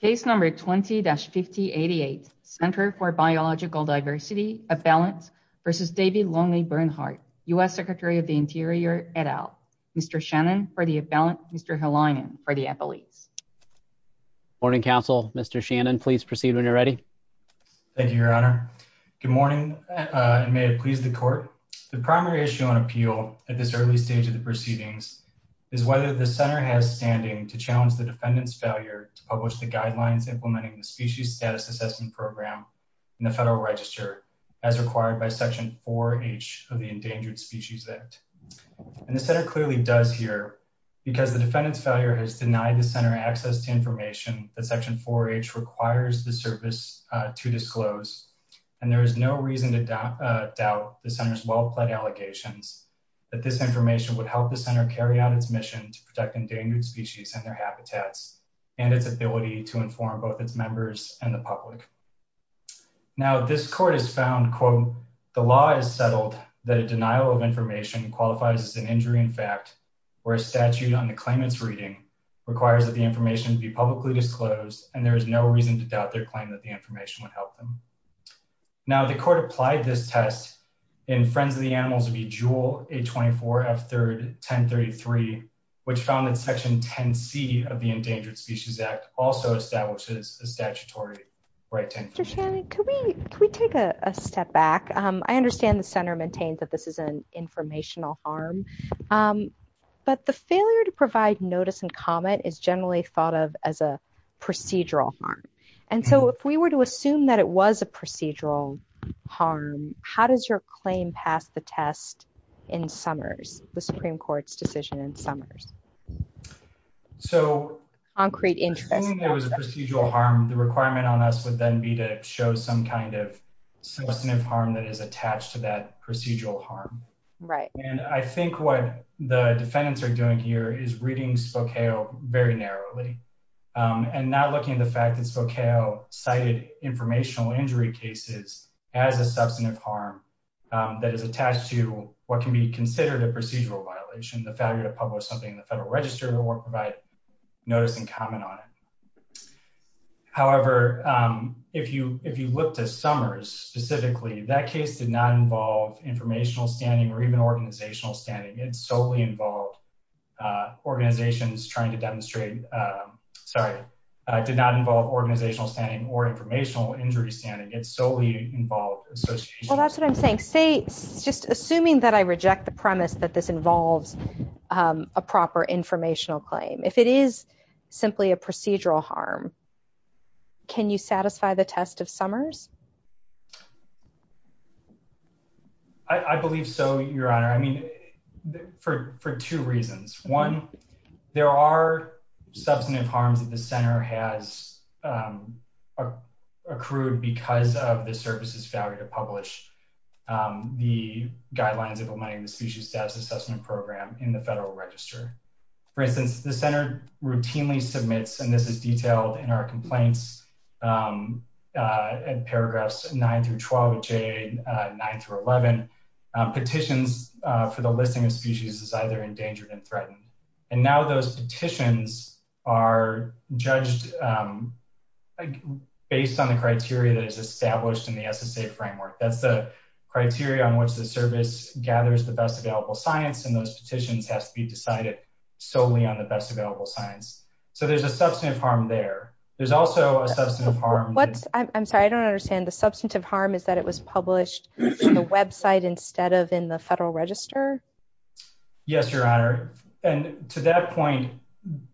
Case No. 20-5088, Center for Biological Diversity, Avalance v. David Lonely Bernhardt, U.S. Secretary of the Interior, et al. Mr. Shannon for the Avalance, Mr. Hellinan for the Avalance. Morning, Counsel. Mr. Shannon, please proceed when you're ready. Thank you, Your Honor. Good morning, and may it please the Court. The primary issue on appeal at this early stage of the proceedings is whether the Center has standing to challenge the defendant's failure to publish the guidelines implementing the Species Status Assessment Program in the Federal Register, as required by Section 4H of the Endangered Species Act. And the Center clearly does here, because the defendant's failure has denied the Center access to information that Section 4H requires the Service to disclose. And there is no reason to doubt the Center's well-pled allegations that this information would help the Center carry out its mission to protect endangered species and their habitats, and its ability to inform both its members and the public. Now, this Court has found, quote, the law is settled that a denial of information qualifies as an injury in fact, where a statute on the claimant's reading requires that the information be publicly disclosed, and there is no reason to doubt their claim that the information would help them. Now, the Court applied this test in Friends of the Animals v. Jewell, A24, F3, 1033, which found that Section 10C of the Endangered Species Act also establishes a statutory right to information. Mr. Shannon, could we take a step back? I understand the Center maintains that this is an informational harm. But the failure to provide notice and comment is generally thought of as a procedural harm. And so if we were to assume that it was a procedural harm, how does your claim pass the test in Summers, the Supreme Court's decision in Summers? So, assuming it was a procedural harm, the requirement on us would then be to show some kind of substantive harm that is attached to that procedural harm. And I think what the defendants are doing here is reading Spokeo very narrowly, and not looking at the fact that Spokeo cited informational injury cases as a substantive harm that is attached to what can be considered a procedural violation, the failure to publish something in the Federal Register or provide notice and comment on it. However, if you look to Summers specifically, that case did not involve informational standing or even organizational standing. It solely involved organizations trying to demonstrate, sorry, did not involve organizational standing or informational injury standing. It solely involved associations. Well, that's what I'm saying. Say, just assuming that I reject the premise that this involves a proper informational claim. If it is simply a procedural harm, can you satisfy the test of Summers? I believe so, Your Honor. I mean, for two reasons. One, there are substantive harms that the Center has accrued because of the service's failure to publish the guidelines implementing the Species Status Assessment Program in the Federal Register. For instance, the Center routinely submits, and this is detailed in our complaints in paragraphs 9 through 12 of JA 9 through 11, petitions for the listing of species as either endangered and threatened. And now those petitions are judged based on the criteria that is established in the SSA framework. That's the criteria on which the service gathers the best available science, and those petitions have to be decided solely on the best available science. So there's a substantive harm there. There's also a substantive harm. I'm sorry, I don't understand. The substantive harm is that it was published on the website instead of in the Federal Register? Yes, Your Honor. And to that point,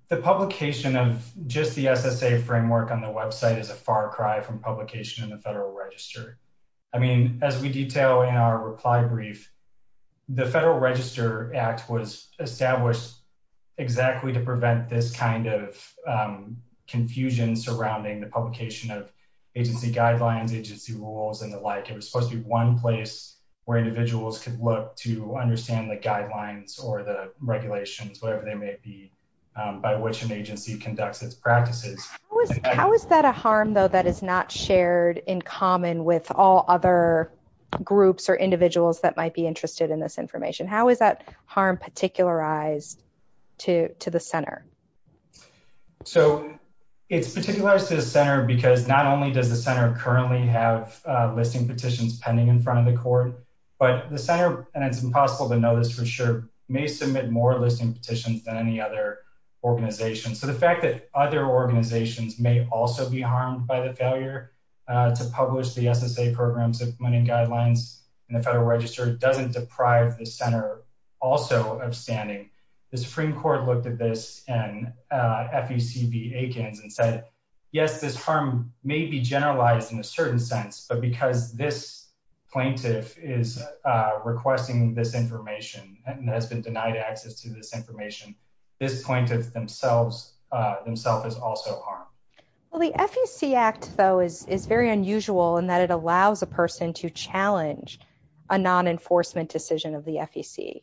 the publication of just the SSA framework on the website is a far cry from publication in the Federal Register. I mean, as we detail in our reply brief, the Federal Register Act was established exactly to prevent this kind of confusion surrounding the publication of agency guidelines, agency rules, and the like. It was supposed to be one place where individuals could look to understand the guidelines or the regulations, whatever they may be, by which an agency conducts its practices. How is that a harm, though, that is not shared in common with all other groups or individuals that might be interested in this information? How is that harm particularized to the Center? So it's particularized to the Center because not only does the Center currently have listing petitions pending in front of the Court, but the Center, and it's impossible to know this for sure, may submit more listing petitions than any other organization. So the fact that other organizations may also be harmed by the failure to publish the SSA programs and funding guidelines in the Federal Register doesn't deprive the Center also of standing. The Supreme Court looked at this in FEC v. Aikens and said, yes, this harm may be generalized in a certain sense. But because this plaintiff is requesting this information and has been denied access to this information, this plaintiff themselves is also harmed. Well, the FEC Act, though, is very unusual in that it allows a person to challenge a non-enforcement decision of the FEC.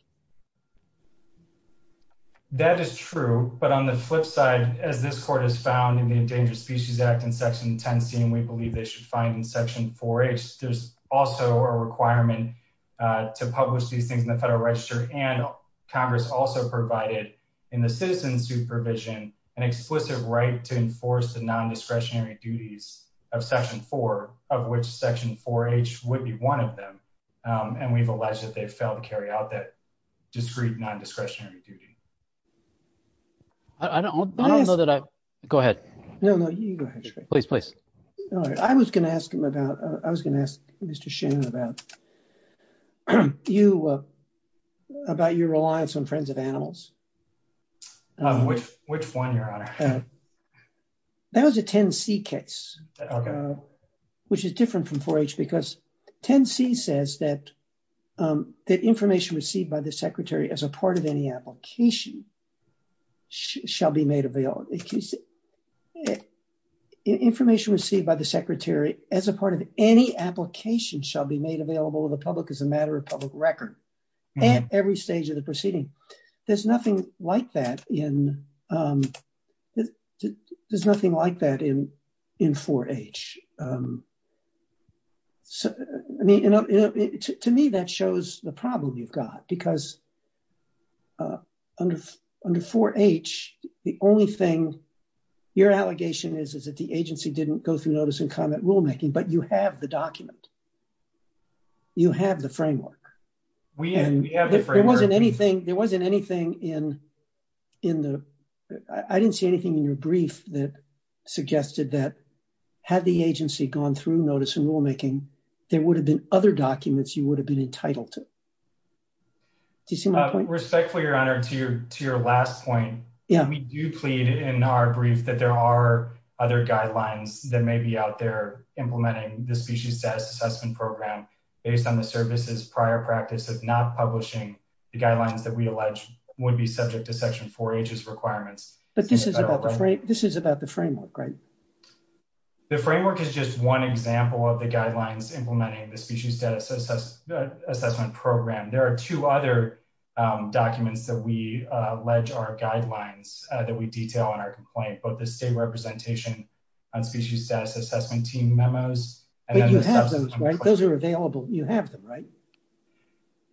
That is true, but on the flip side, as this Court has found in the Endangered Species Act in Section 10C and we believe they should find in Section 4H, there's also a requirement to publish these things in the Federal Register. And Congress also provided in the citizen supervision an explicit right to enforce the non-discretionary duties of Section 4, of which Section 4H would be one of them. And we've alleged that they've failed to carry out that discreet non-discretionary duty. I don't know that I... Go ahead. No, no, you go ahead. Please, please. I was going to ask him about... I was going to ask Mr. Shannon about you, about your reliance on friends of animals. Which one, Your Honor? That was a 10C case, which is different from 4H because 10C says that information received by the Secretary as a part of any application shall be made available. Information received by the Secretary as a part of any application shall be made available to the public as a matter of public record at every stage of the proceeding. There's nothing like that in... There's nothing like that in 4H. To me, that shows the problem you've got because under 4H, the only thing your allegation is, is that the agency didn't go through notice and comment rulemaking, but you have the document. You have the framework. We have the framework. There wasn't anything in the... I didn't see anything in your brief that suggested that had the agency gone through notice and rulemaking, there would have been other documents you would have been entitled to. Do you see my point? Respectfully, Your Honor, to your last point, we do plead in our brief that there are other guidelines that may be out there implementing the Species Status Assessment Program based on the service's prior practice of not publishing the guidelines that we allege would be subject to Section 4H's requirements. But this is about the framework, right? The framework is just one example of the guidelines implementing the Species Status Assessment Program. There are two other documents that we allege are guidelines that we detail in our complaint, but the State Representation on Species Status Assessment Team memos... But you have those, right? Those are available. You have them, right?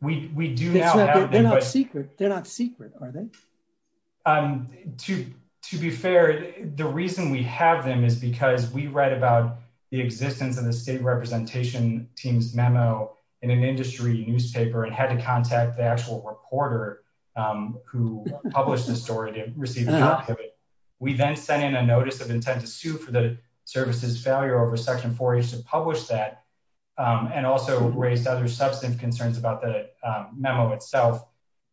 We do now... They're not secret. They're not secret, are they? To be fair, the reason we have them is because we read about the existence of the State Representation Team's memo in an industry newspaper and had to contact the actual reporter who published the story to receive the document. We then sent in a notice of intent to sue for the service's failure over Section 4H to publish that, and also raised other substantive concerns about the memo itself.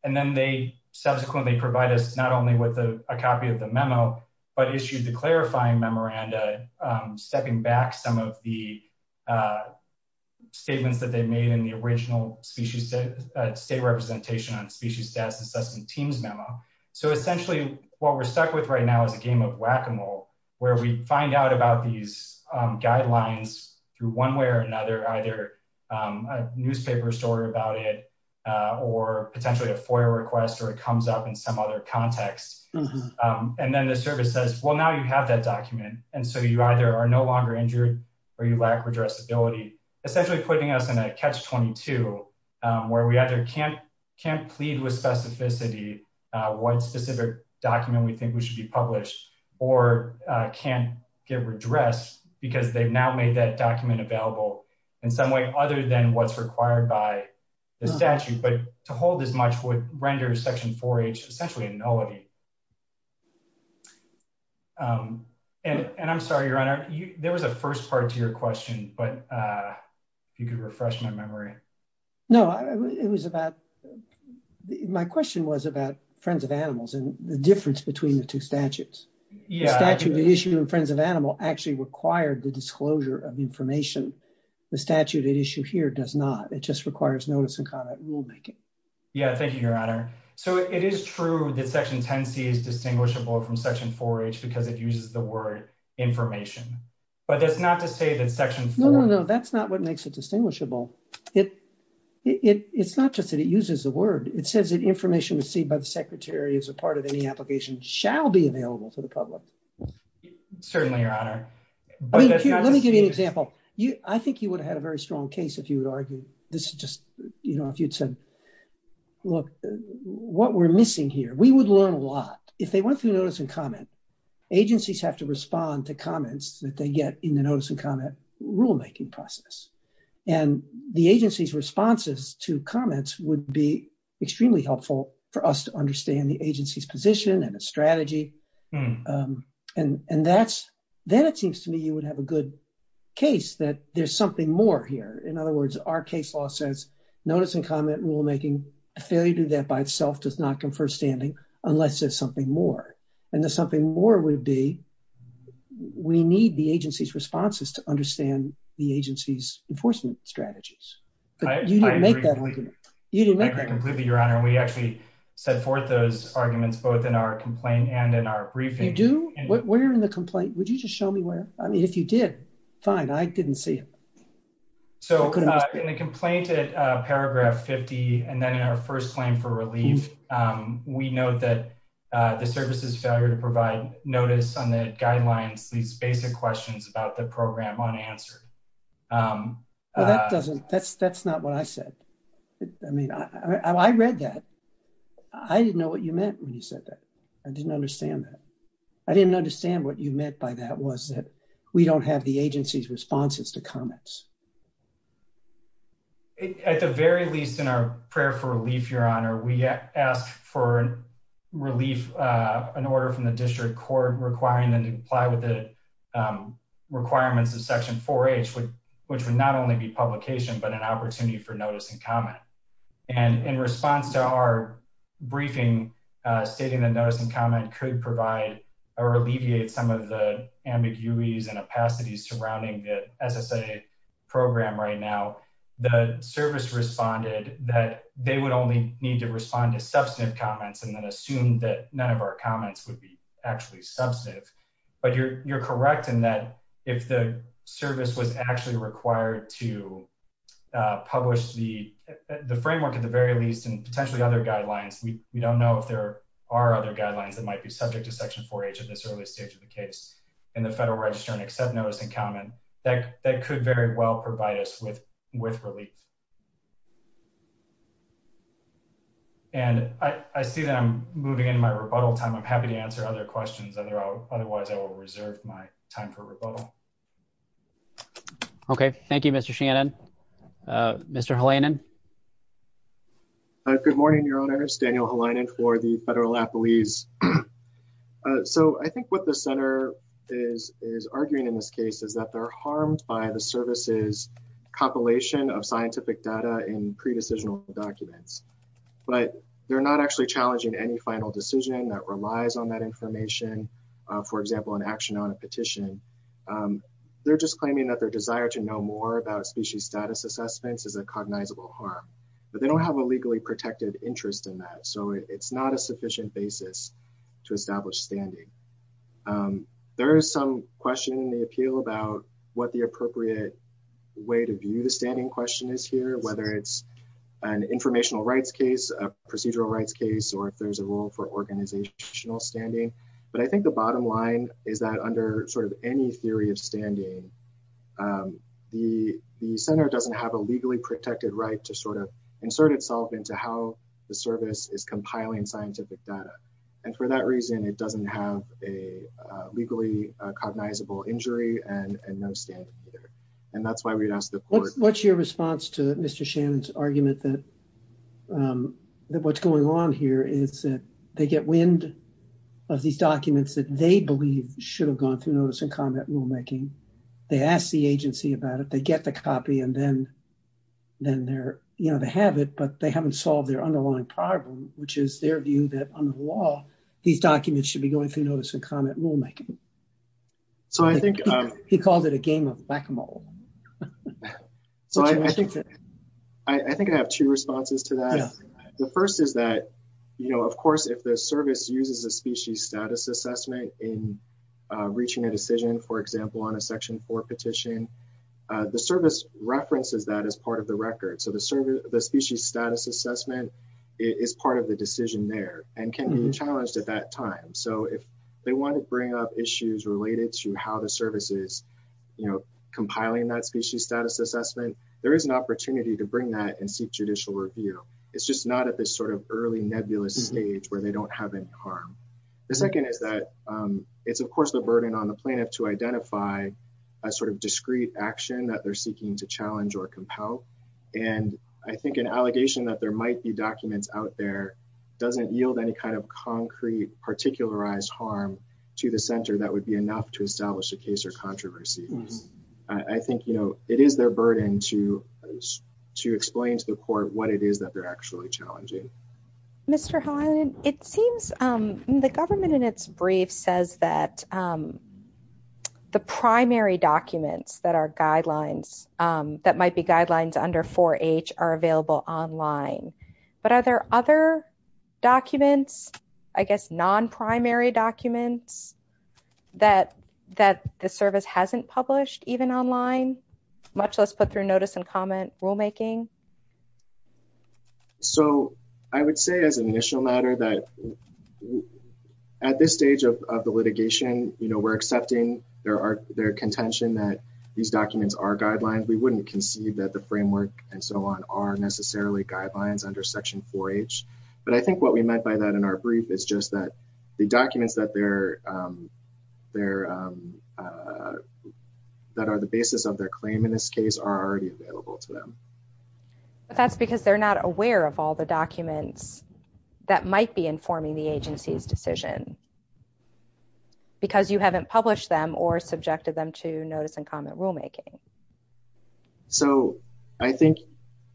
And then they subsequently provide us not only with a copy of the memo, but issued the clarifying memoranda stepping back some of the statements that they made in the original State Representation on Species Status Assessment Team's memo. So essentially, what we're stuck with right now is a game of whack-a-mole, where we find out about these guidelines through one way or another, either a newspaper story about it or potentially a FOIA request or it comes up in some other context. And then the service says, well, now you have that document, and so you either are no longer injured or you lack redressability, essentially putting us in a catch-22, where we either can't plead with specificity what specific document we think we should be published or can't get redressed because they've now made that document available in some way other than what's required by the statute. But to hold as much would render Section 4H essentially a nullity. And I'm sorry, Your Honor, there was a first part to your question, but if you could refresh my memory. No, it was about — my question was about Friends of Animals and the difference between the two statutes. The statute that issued in Friends of Animals actually required the disclosure of information. The statute at issue here does not. It just requires notice and comment rulemaking. Yeah, thank you, Your Honor. So it is true that Section 10C is distinguishable from Section 4H because it uses the word information, but that's not to say that Section 4 — No, no, no, that's not what makes it distinguishable. It's not just that it uses the word. It says that information received by the Secretary as a part of any application shall be available to the public. Let me give you an example. I think you would have had a very strong case if you would argue — this is just, you know, if you'd said, look, what we're missing here. We would learn a lot. If they went through notice and comment, agencies have to respond to comments that they get in the notice and comment rulemaking process. And the agency's responses to comments would be extremely helpful for us to understand the agency's position and its strategy. And that's — then it seems to me you would have a good case that there's something more here. In other words, our case law says notice and comment rulemaking, a failure to do that by itself does not confer standing unless there's something more. And the something more would be we need the agency's responses to understand the agency's enforcement strategies. You didn't make that argument. I agree completely, Your Honor. We actually set forth those arguments both in our complaint and in our briefing. You do? Where in the complaint? Would you just show me where? I mean, if you did, fine. I didn't see it. So in the complaint at paragraph 50 and then in our first claim for relief, we note that the service's failure to provide notice on the guidelines leaves basic questions about the program unanswered. That doesn't — that's not what I said. I mean, I read that. I didn't know what you meant when you said that. I didn't understand that. I didn't understand what you meant by that was that we don't have the agency's responses to comments. At the very least, in our prayer for relief, Your Honor, we ask for relief, an order from the district court requiring them to comply with the requirements of Section 4H, which would not only be publication, but an opportunity for notice and comment. And in response to our briefing, stating that notice and comment could provide or alleviate some of the ambiguities and opacities surrounding the SSA program right now, the service responded that they would only need to respond to substantive comments and then assume that none of our comments would be actually substantive. But you're correct in that if the service was actually required to publish the framework, at the very least, and potentially other guidelines — we don't know if there are other guidelines that might be subject to Section 4H at this early stage of the case in the Federal Register and accept notice and comment — that could very well provide us with relief. And I see that I'm moving into my rebuttal time. I'm happy to answer other questions. Otherwise, I will reserve my time for rebuttal. Okay. Thank you, Mr. Shannon. Mr. Halayanan? Good morning, Your Honors. Daniel Halayanan for the Federal Appellees. So I think what the Center is arguing in this case is that they're harmed by the service's compilation of scientific data and pre-decisional documents. But they're not actually challenging any final decision that relies on that information. For example, an action on a petition. They're just claiming that their desire to know more about species status assessments is a cognizable harm. But they don't have a legally protected interest in that, so it's not a sufficient basis to establish standing. There is some question in the appeal about what the appropriate way to view the standing question is here, whether it's an informational rights case, a procedural rights case, or if there's a role for organizational standing. But I think the bottom line is that under sort of any theory of standing, the Center doesn't have a legally protected right to sort of insert itself into how the service is compiling scientific data. And for that reason, it doesn't have a legally cognizable injury and no standing either. And that's why we'd ask the court— What's your response to Mr. Shannon's argument that what's going on here is that they get wind of these documents that they believe should have gone through notice and comment rulemaking. They ask the agency about it, they get the copy, and then they have it, but they haven't solved their underlying problem, which is their view that under the law, these documents should be going through notice and comment rulemaking. He called it a game of whack-a-mole. So I think I have two responses to that. The first is that, you know, of course, if the service uses a species status assessment in reaching a decision, for example, on a Section 4 petition, the service references that as part of the record. So the species status assessment is part of the decision there and can be challenged at that time. So if they want to bring up issues related to how the service is, you know, compiling that species status assessment, there is an opportunity to bring that and seek judicial review. It's just not at this sort of early nebulous stage where they don't have any harm. The second is that it's, of course, the burden on the plaintiff to identify a sort of discrete action that they're seeking to challenge or compel. And I think an allegation that there might be documents out there doesn't yield any kind of concrete, particularized harm to the center that would be enough to establish a case or controversy. I think, you know, it is their burden to explain to the court what it is that they're actually challenging. Mr. Hyland, it seems the government in its brief says that the primary documents that are guidelines, that might be guidelines under 4H are available online. But are there other documents, I guess non-primary documents, that the service hasn't published even online, much less put through notice and comment rulemaking? So I would say as an initial matter that at this stage of the litigation, you know, we're accepting their contention that these documents are guidelines. We wouldn't concede that the framework and so on are necessarily guidelines under Section 4H. But I think what we meant by that in our brief is just that the documents that are the basis of their claim in this case are already available to them. But that's because they're not aware of all the documents that might be informing the agency's decision because you haven't published them or subjected them to notice and comment rulemaking. So I think,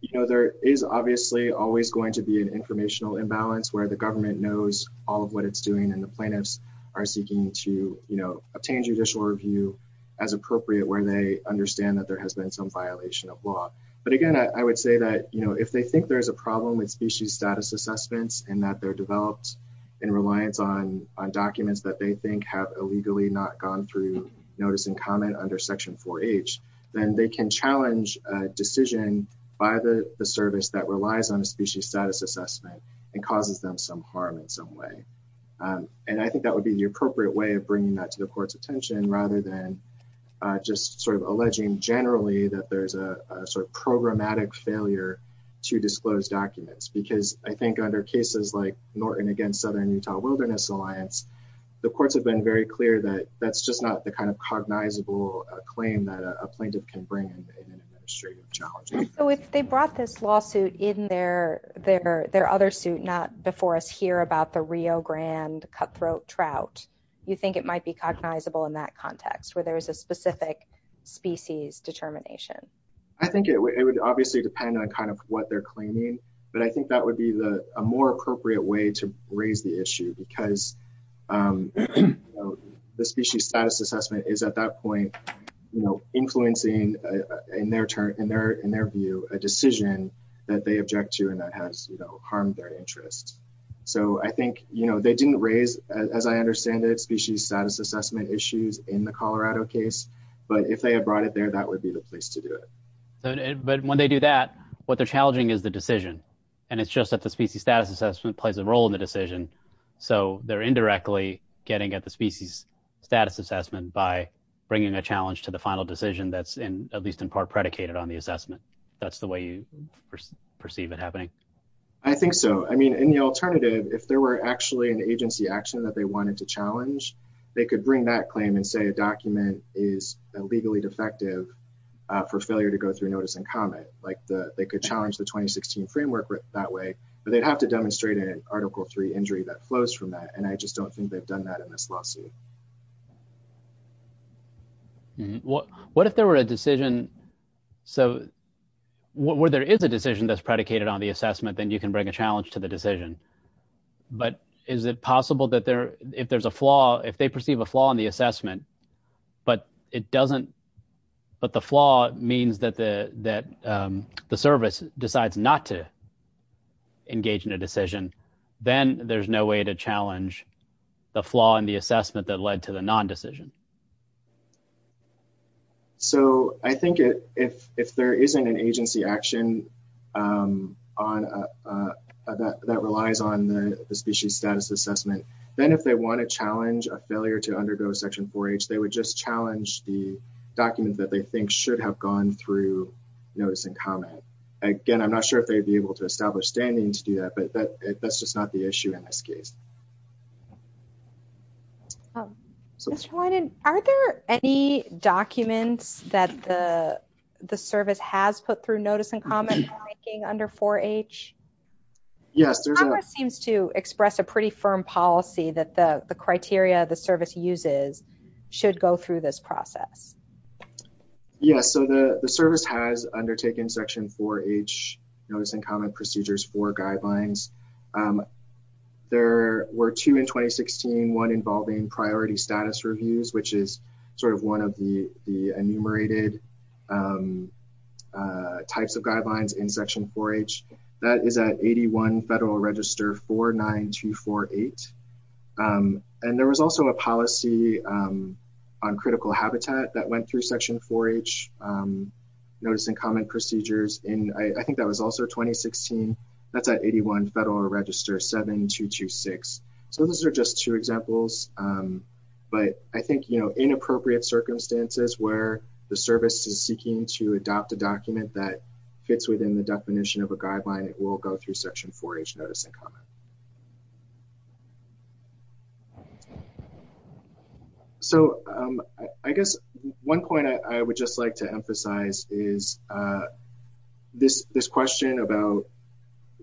you know, there is obviously always going to be an informational imbalance where the government knows all of what it's doing and the plaintiffs are seeking to, you know, obtain judicial review as appropriate where they understand that there has been some violation of law. But again, I would say that, you know, if they think there is a problem with species status assessments and that they're developed in reliance on documents that they think have illegally not gone through notice and comment under Section 4H, then they can challenge a decision by the service that relies on a species status assessment and causes them some harm in some way. And I think that would be the appropriate way of bringing that to the court's attention rather than just sort of alleging generally that there's a sort of programmatic failure to disclose documents. Because I think under cases like Norton against Southern Utah Wilderness Alliance, the courts have been very clear that that's just not the kind of cognizable claim that a plaintiff can bring in an administrative challenge. So if they brought this lawsuit in their other suit, not before us here about the Rio Grande cutthroat trout, you think it might be cognizable in that context where there is a specific species determination? I think it would obviously depend on kind of what they're claiming, but I think that would be a more appropriate way to raise the issue because the species status assessment is at that point, you know, influencing in their turn, in their view, a decision that they object to and that has harmed their interest. So I think, you know, they didn't raise, as I understand it, species status assessment issues in the Colorado case, but if they had brought it there, that would be the place to do it. But when they do that, what they're challenging is the decision. And it's just that the species status assessment plays a role in the decision. So they're indirectly getting at the species status assessment by bringing a challenge to the final decision that's in at least in part predicated on the assessment. That's the way you perceive it happening. I think so. I mean, in the alternative, if there were actually an agency action that they wanted to challenge, they could bring that claim and say a document is illegally defective for failure to go through notice and comment. Like they could challenge the 2016 framework that way, but they'd have to demonstrate an Article III injury that flows from that. And I just don't think they've done that in this lawsuit. What if there were a decision, so where there is a decision that's predicated on the assessment, then you can bring a challenge to the decision. But is it possible that there, if there's a flaw, if they perceive a flaw in the assessment, but it doesn't, but the flaw means that the, that the service decides not to engage in a decision. Then there's no way to challenge the flaw in the assessment that led to the non-decision. So I think if there isn't an agency action that relies on the species status assessment, then if they want to challenge a failure to undergo Section 4H, they would just challenge the document that they think should have gone through notice and comment. Again, I'm not sure if they'd be able to establish standing to do that, but that's just not the issue in this case. Are there any documents that the service has put through notice and comment under 4H? Congress seems to express a pretty firm policy that the criteria the service uses should go through this process. Yes, so the service has undertaken Section 4H notice and comment procedures for guidelines. There were two in 2016, one involving priority status reviews, which is sort of one of the enumerated types of guidelines in Section 4H. That is at 81 Federal Register 49248. And there was also a policy on critical habitat that went through Section 4H notice and comment procedures, and I think that was also 2016. That's at 81 Federal Register 7226. So those are just two examples, but I think, you know, in appropriate circumstances where the service is seeking to adopt a document that fits within the definition of a guideline, it will go through Section 4H notice and comment. So I guess one point I would just like to emphasize is this question about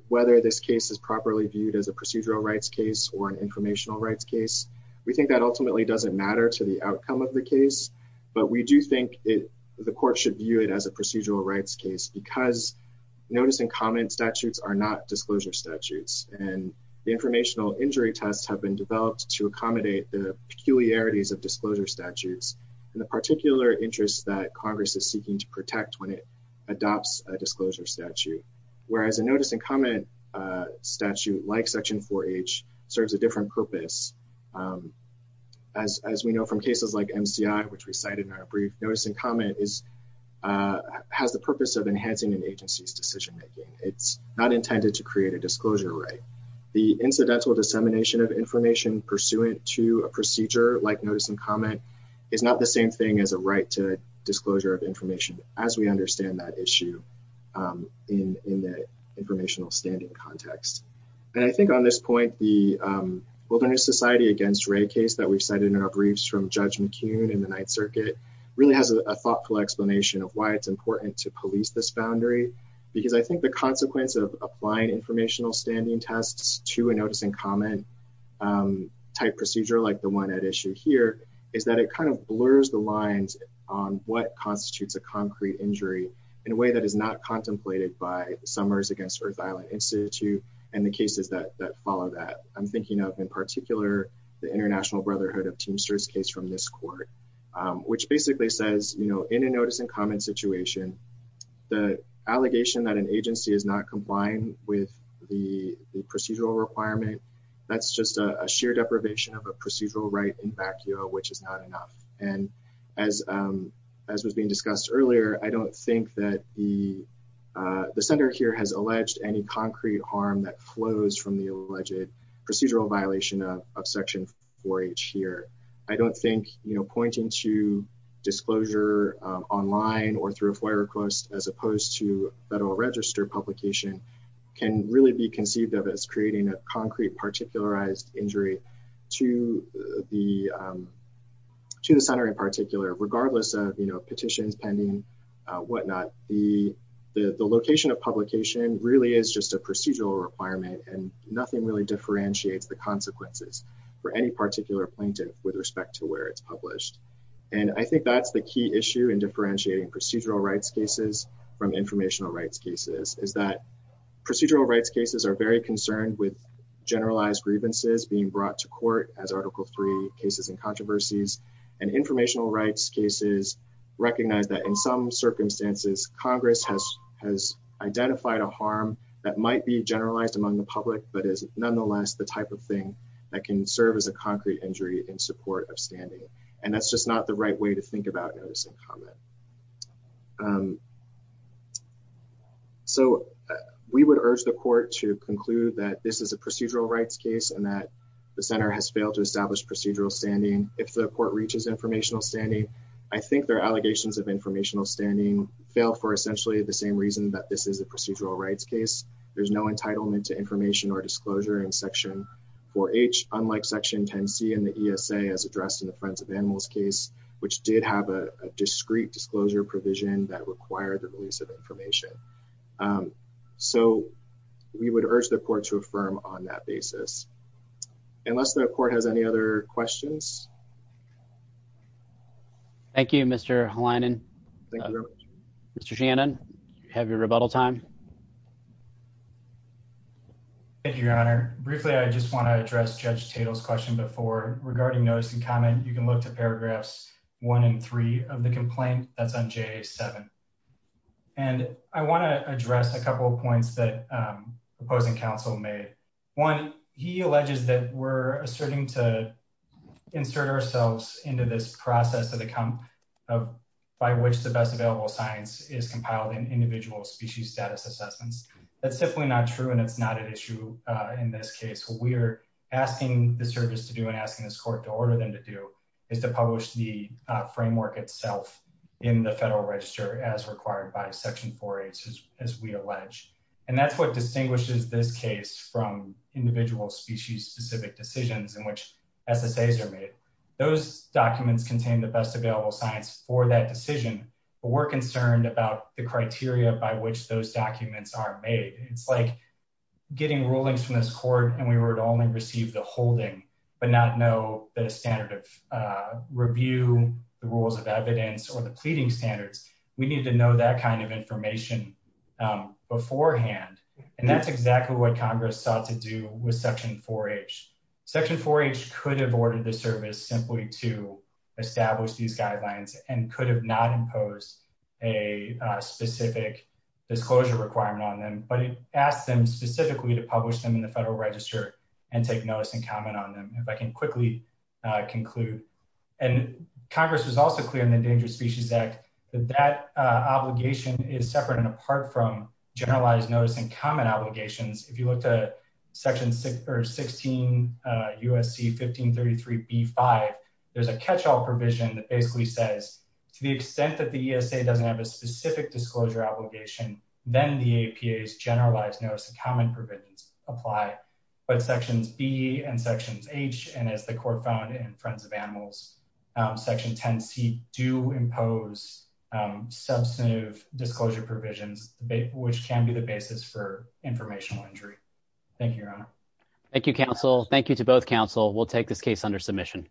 whether this case is properly viewed as a procedural rights case or an informational rights case. We think that ultimately doesn't matter to the outcome of the case. But we do think the court should view it as a procedural rights case because notice and comment statutes are not disclosure statutes. And the informational injury tests have been developed to accommodate the peculiarities of disclosure statutes and the particular interests that Congress is seeking to protect when it adopts a disclosure statute. Whereas a notice and comment statute like Section 4H serves a different purpose. As we know from cases like MCI, which we cited in our brief, notice and comment has the purpose of enhancing an agency's decision making. It's not intended to create a disclosure right. The incidental dissemination of information pursuant to a procedure like notice and comment is not the same thing as a right to disclosure of information as we understand that issue in the informational standing context. And I think on this point, the Wilderness Society against Wray case that we've cited in our briefs from Judge McCune in the Ninth Circuit really has a thoughtful explanation of why it's important to police this boundary. Because I think the consequence of applying informational standing tests to a notice and comment type procedure like the one at issue here is that it kind of blurs the lines on what constitutes a concrete injury in a way that is not contemplated by Summers Against Earth Island Institute. And the cases that follow that, I'm thinking of in particular, the International Brotherhood of Teamsters case from this court, which basically says, you know, in a notice and comment situation, the allegation that an agency is not complying with the procedural requirement, that's just a sheer deprivation of a procedural right in vacuo, which is not enough. And as was being discussed earlier, I don't think that the center here has alleged any concrete harm that flows from the alleged procedural violation of Section 4H here. I don't think, you know, pointing to disclosure online or through a FOIA request as opposed to Federal Register publication can really be conceived of as creating a concrete particularized injury to the center in particular, regardless of, you know, petitions pending, whatnot. The location of publication really is just a procedural requirement and nothing really differentiates the consequences for any particular plaintiff with respect to where it's published. And I think that's the key issue in differentiating procedural rights cases from informational rights cases, is that procedural rights cases are very concerned with generalized grievances being brought to court as Article 3 cases and controversies. And informational rights cases recognize that in some circumstances Congress has identified a harm that might be generalized among the public, but is nonetheless the type of thing that can serve as a concrete injury in support of standing. That's just not the right way to think about notice and comment. So, we would urge the court to conclude that this is a procedural rights case and that the center has failed to establish procedural standing. If the court reaches informational standing, I think their allegations of informational standing fail for essentially the same reason that this is a procedural rights case. There's no entitlement to information or disclosure in Section 4H, unlike Section 10C in the ESA as addressed in the Friends of Animals case, which did have a discrete disclosure provision that required the release of information. So, we would urge the court to affirm on that basis. Unless the court has any other questions? Thank you, Mr. Hlinen. Thank you very much. Mr. Shannon, you have your rebuttal time. Thank you, Your Honor. Briefly, I just want to address Judge Tatel's question before regarding notice and comment. You can look to paragraphs 1 and 3 of the complaint that's on JA 7. And I want to address a couple of points that opposing counsel made. One, he alleges that we're asserting to insert ourselves into this process by which the best available science is compiled in individual species status assessments. That's definitely not true, and it's not an issue in this case. What we're asking the service to do and asking this court to order them to do is to publish the framework itself in the Federal Register as required by Section 4H, as we allege. And that's what distinguishes this case from individual species-specific decisions in which SSAs are made. Those documents contain the best available science for that decision, but we're concerned about the criteria by which those documents are made. It's like getting rulings from this court and we were to only receive the holding, but not know the standard of review, the rules of evidence, or the pleading standards. We need to know that kind of information beforehand, and that's exactly what Congress sought to do with Section 4H. Section 4H could have ordered the service simply to establish these guidelines and could have not imposed a specific disclosure requirement on them, but it asked them specifically to publish them in the Federal Register and take notice and comment on them, if I can quickly conclude. And Congress was also clear in the Endangered Species Act that that obligation is separate and apart from generalized notice and comment obligations. If you look to Section 16 U.S.C. 1533b-5, there's a catch-all provision that basically says, to the extent that the ESA doesn't have a specific disclosure obligation, then the APA's generalized notice and comment provisions apply. But Sections B and Sections H, and as the Court found in Friends of Animals, Section 10C do impose substantive disclosure provisions, which can be the basis for informational injury. Thank you, Your Honor. Thank you, counsel. Thank you to both counsel. We'll take this case under submission.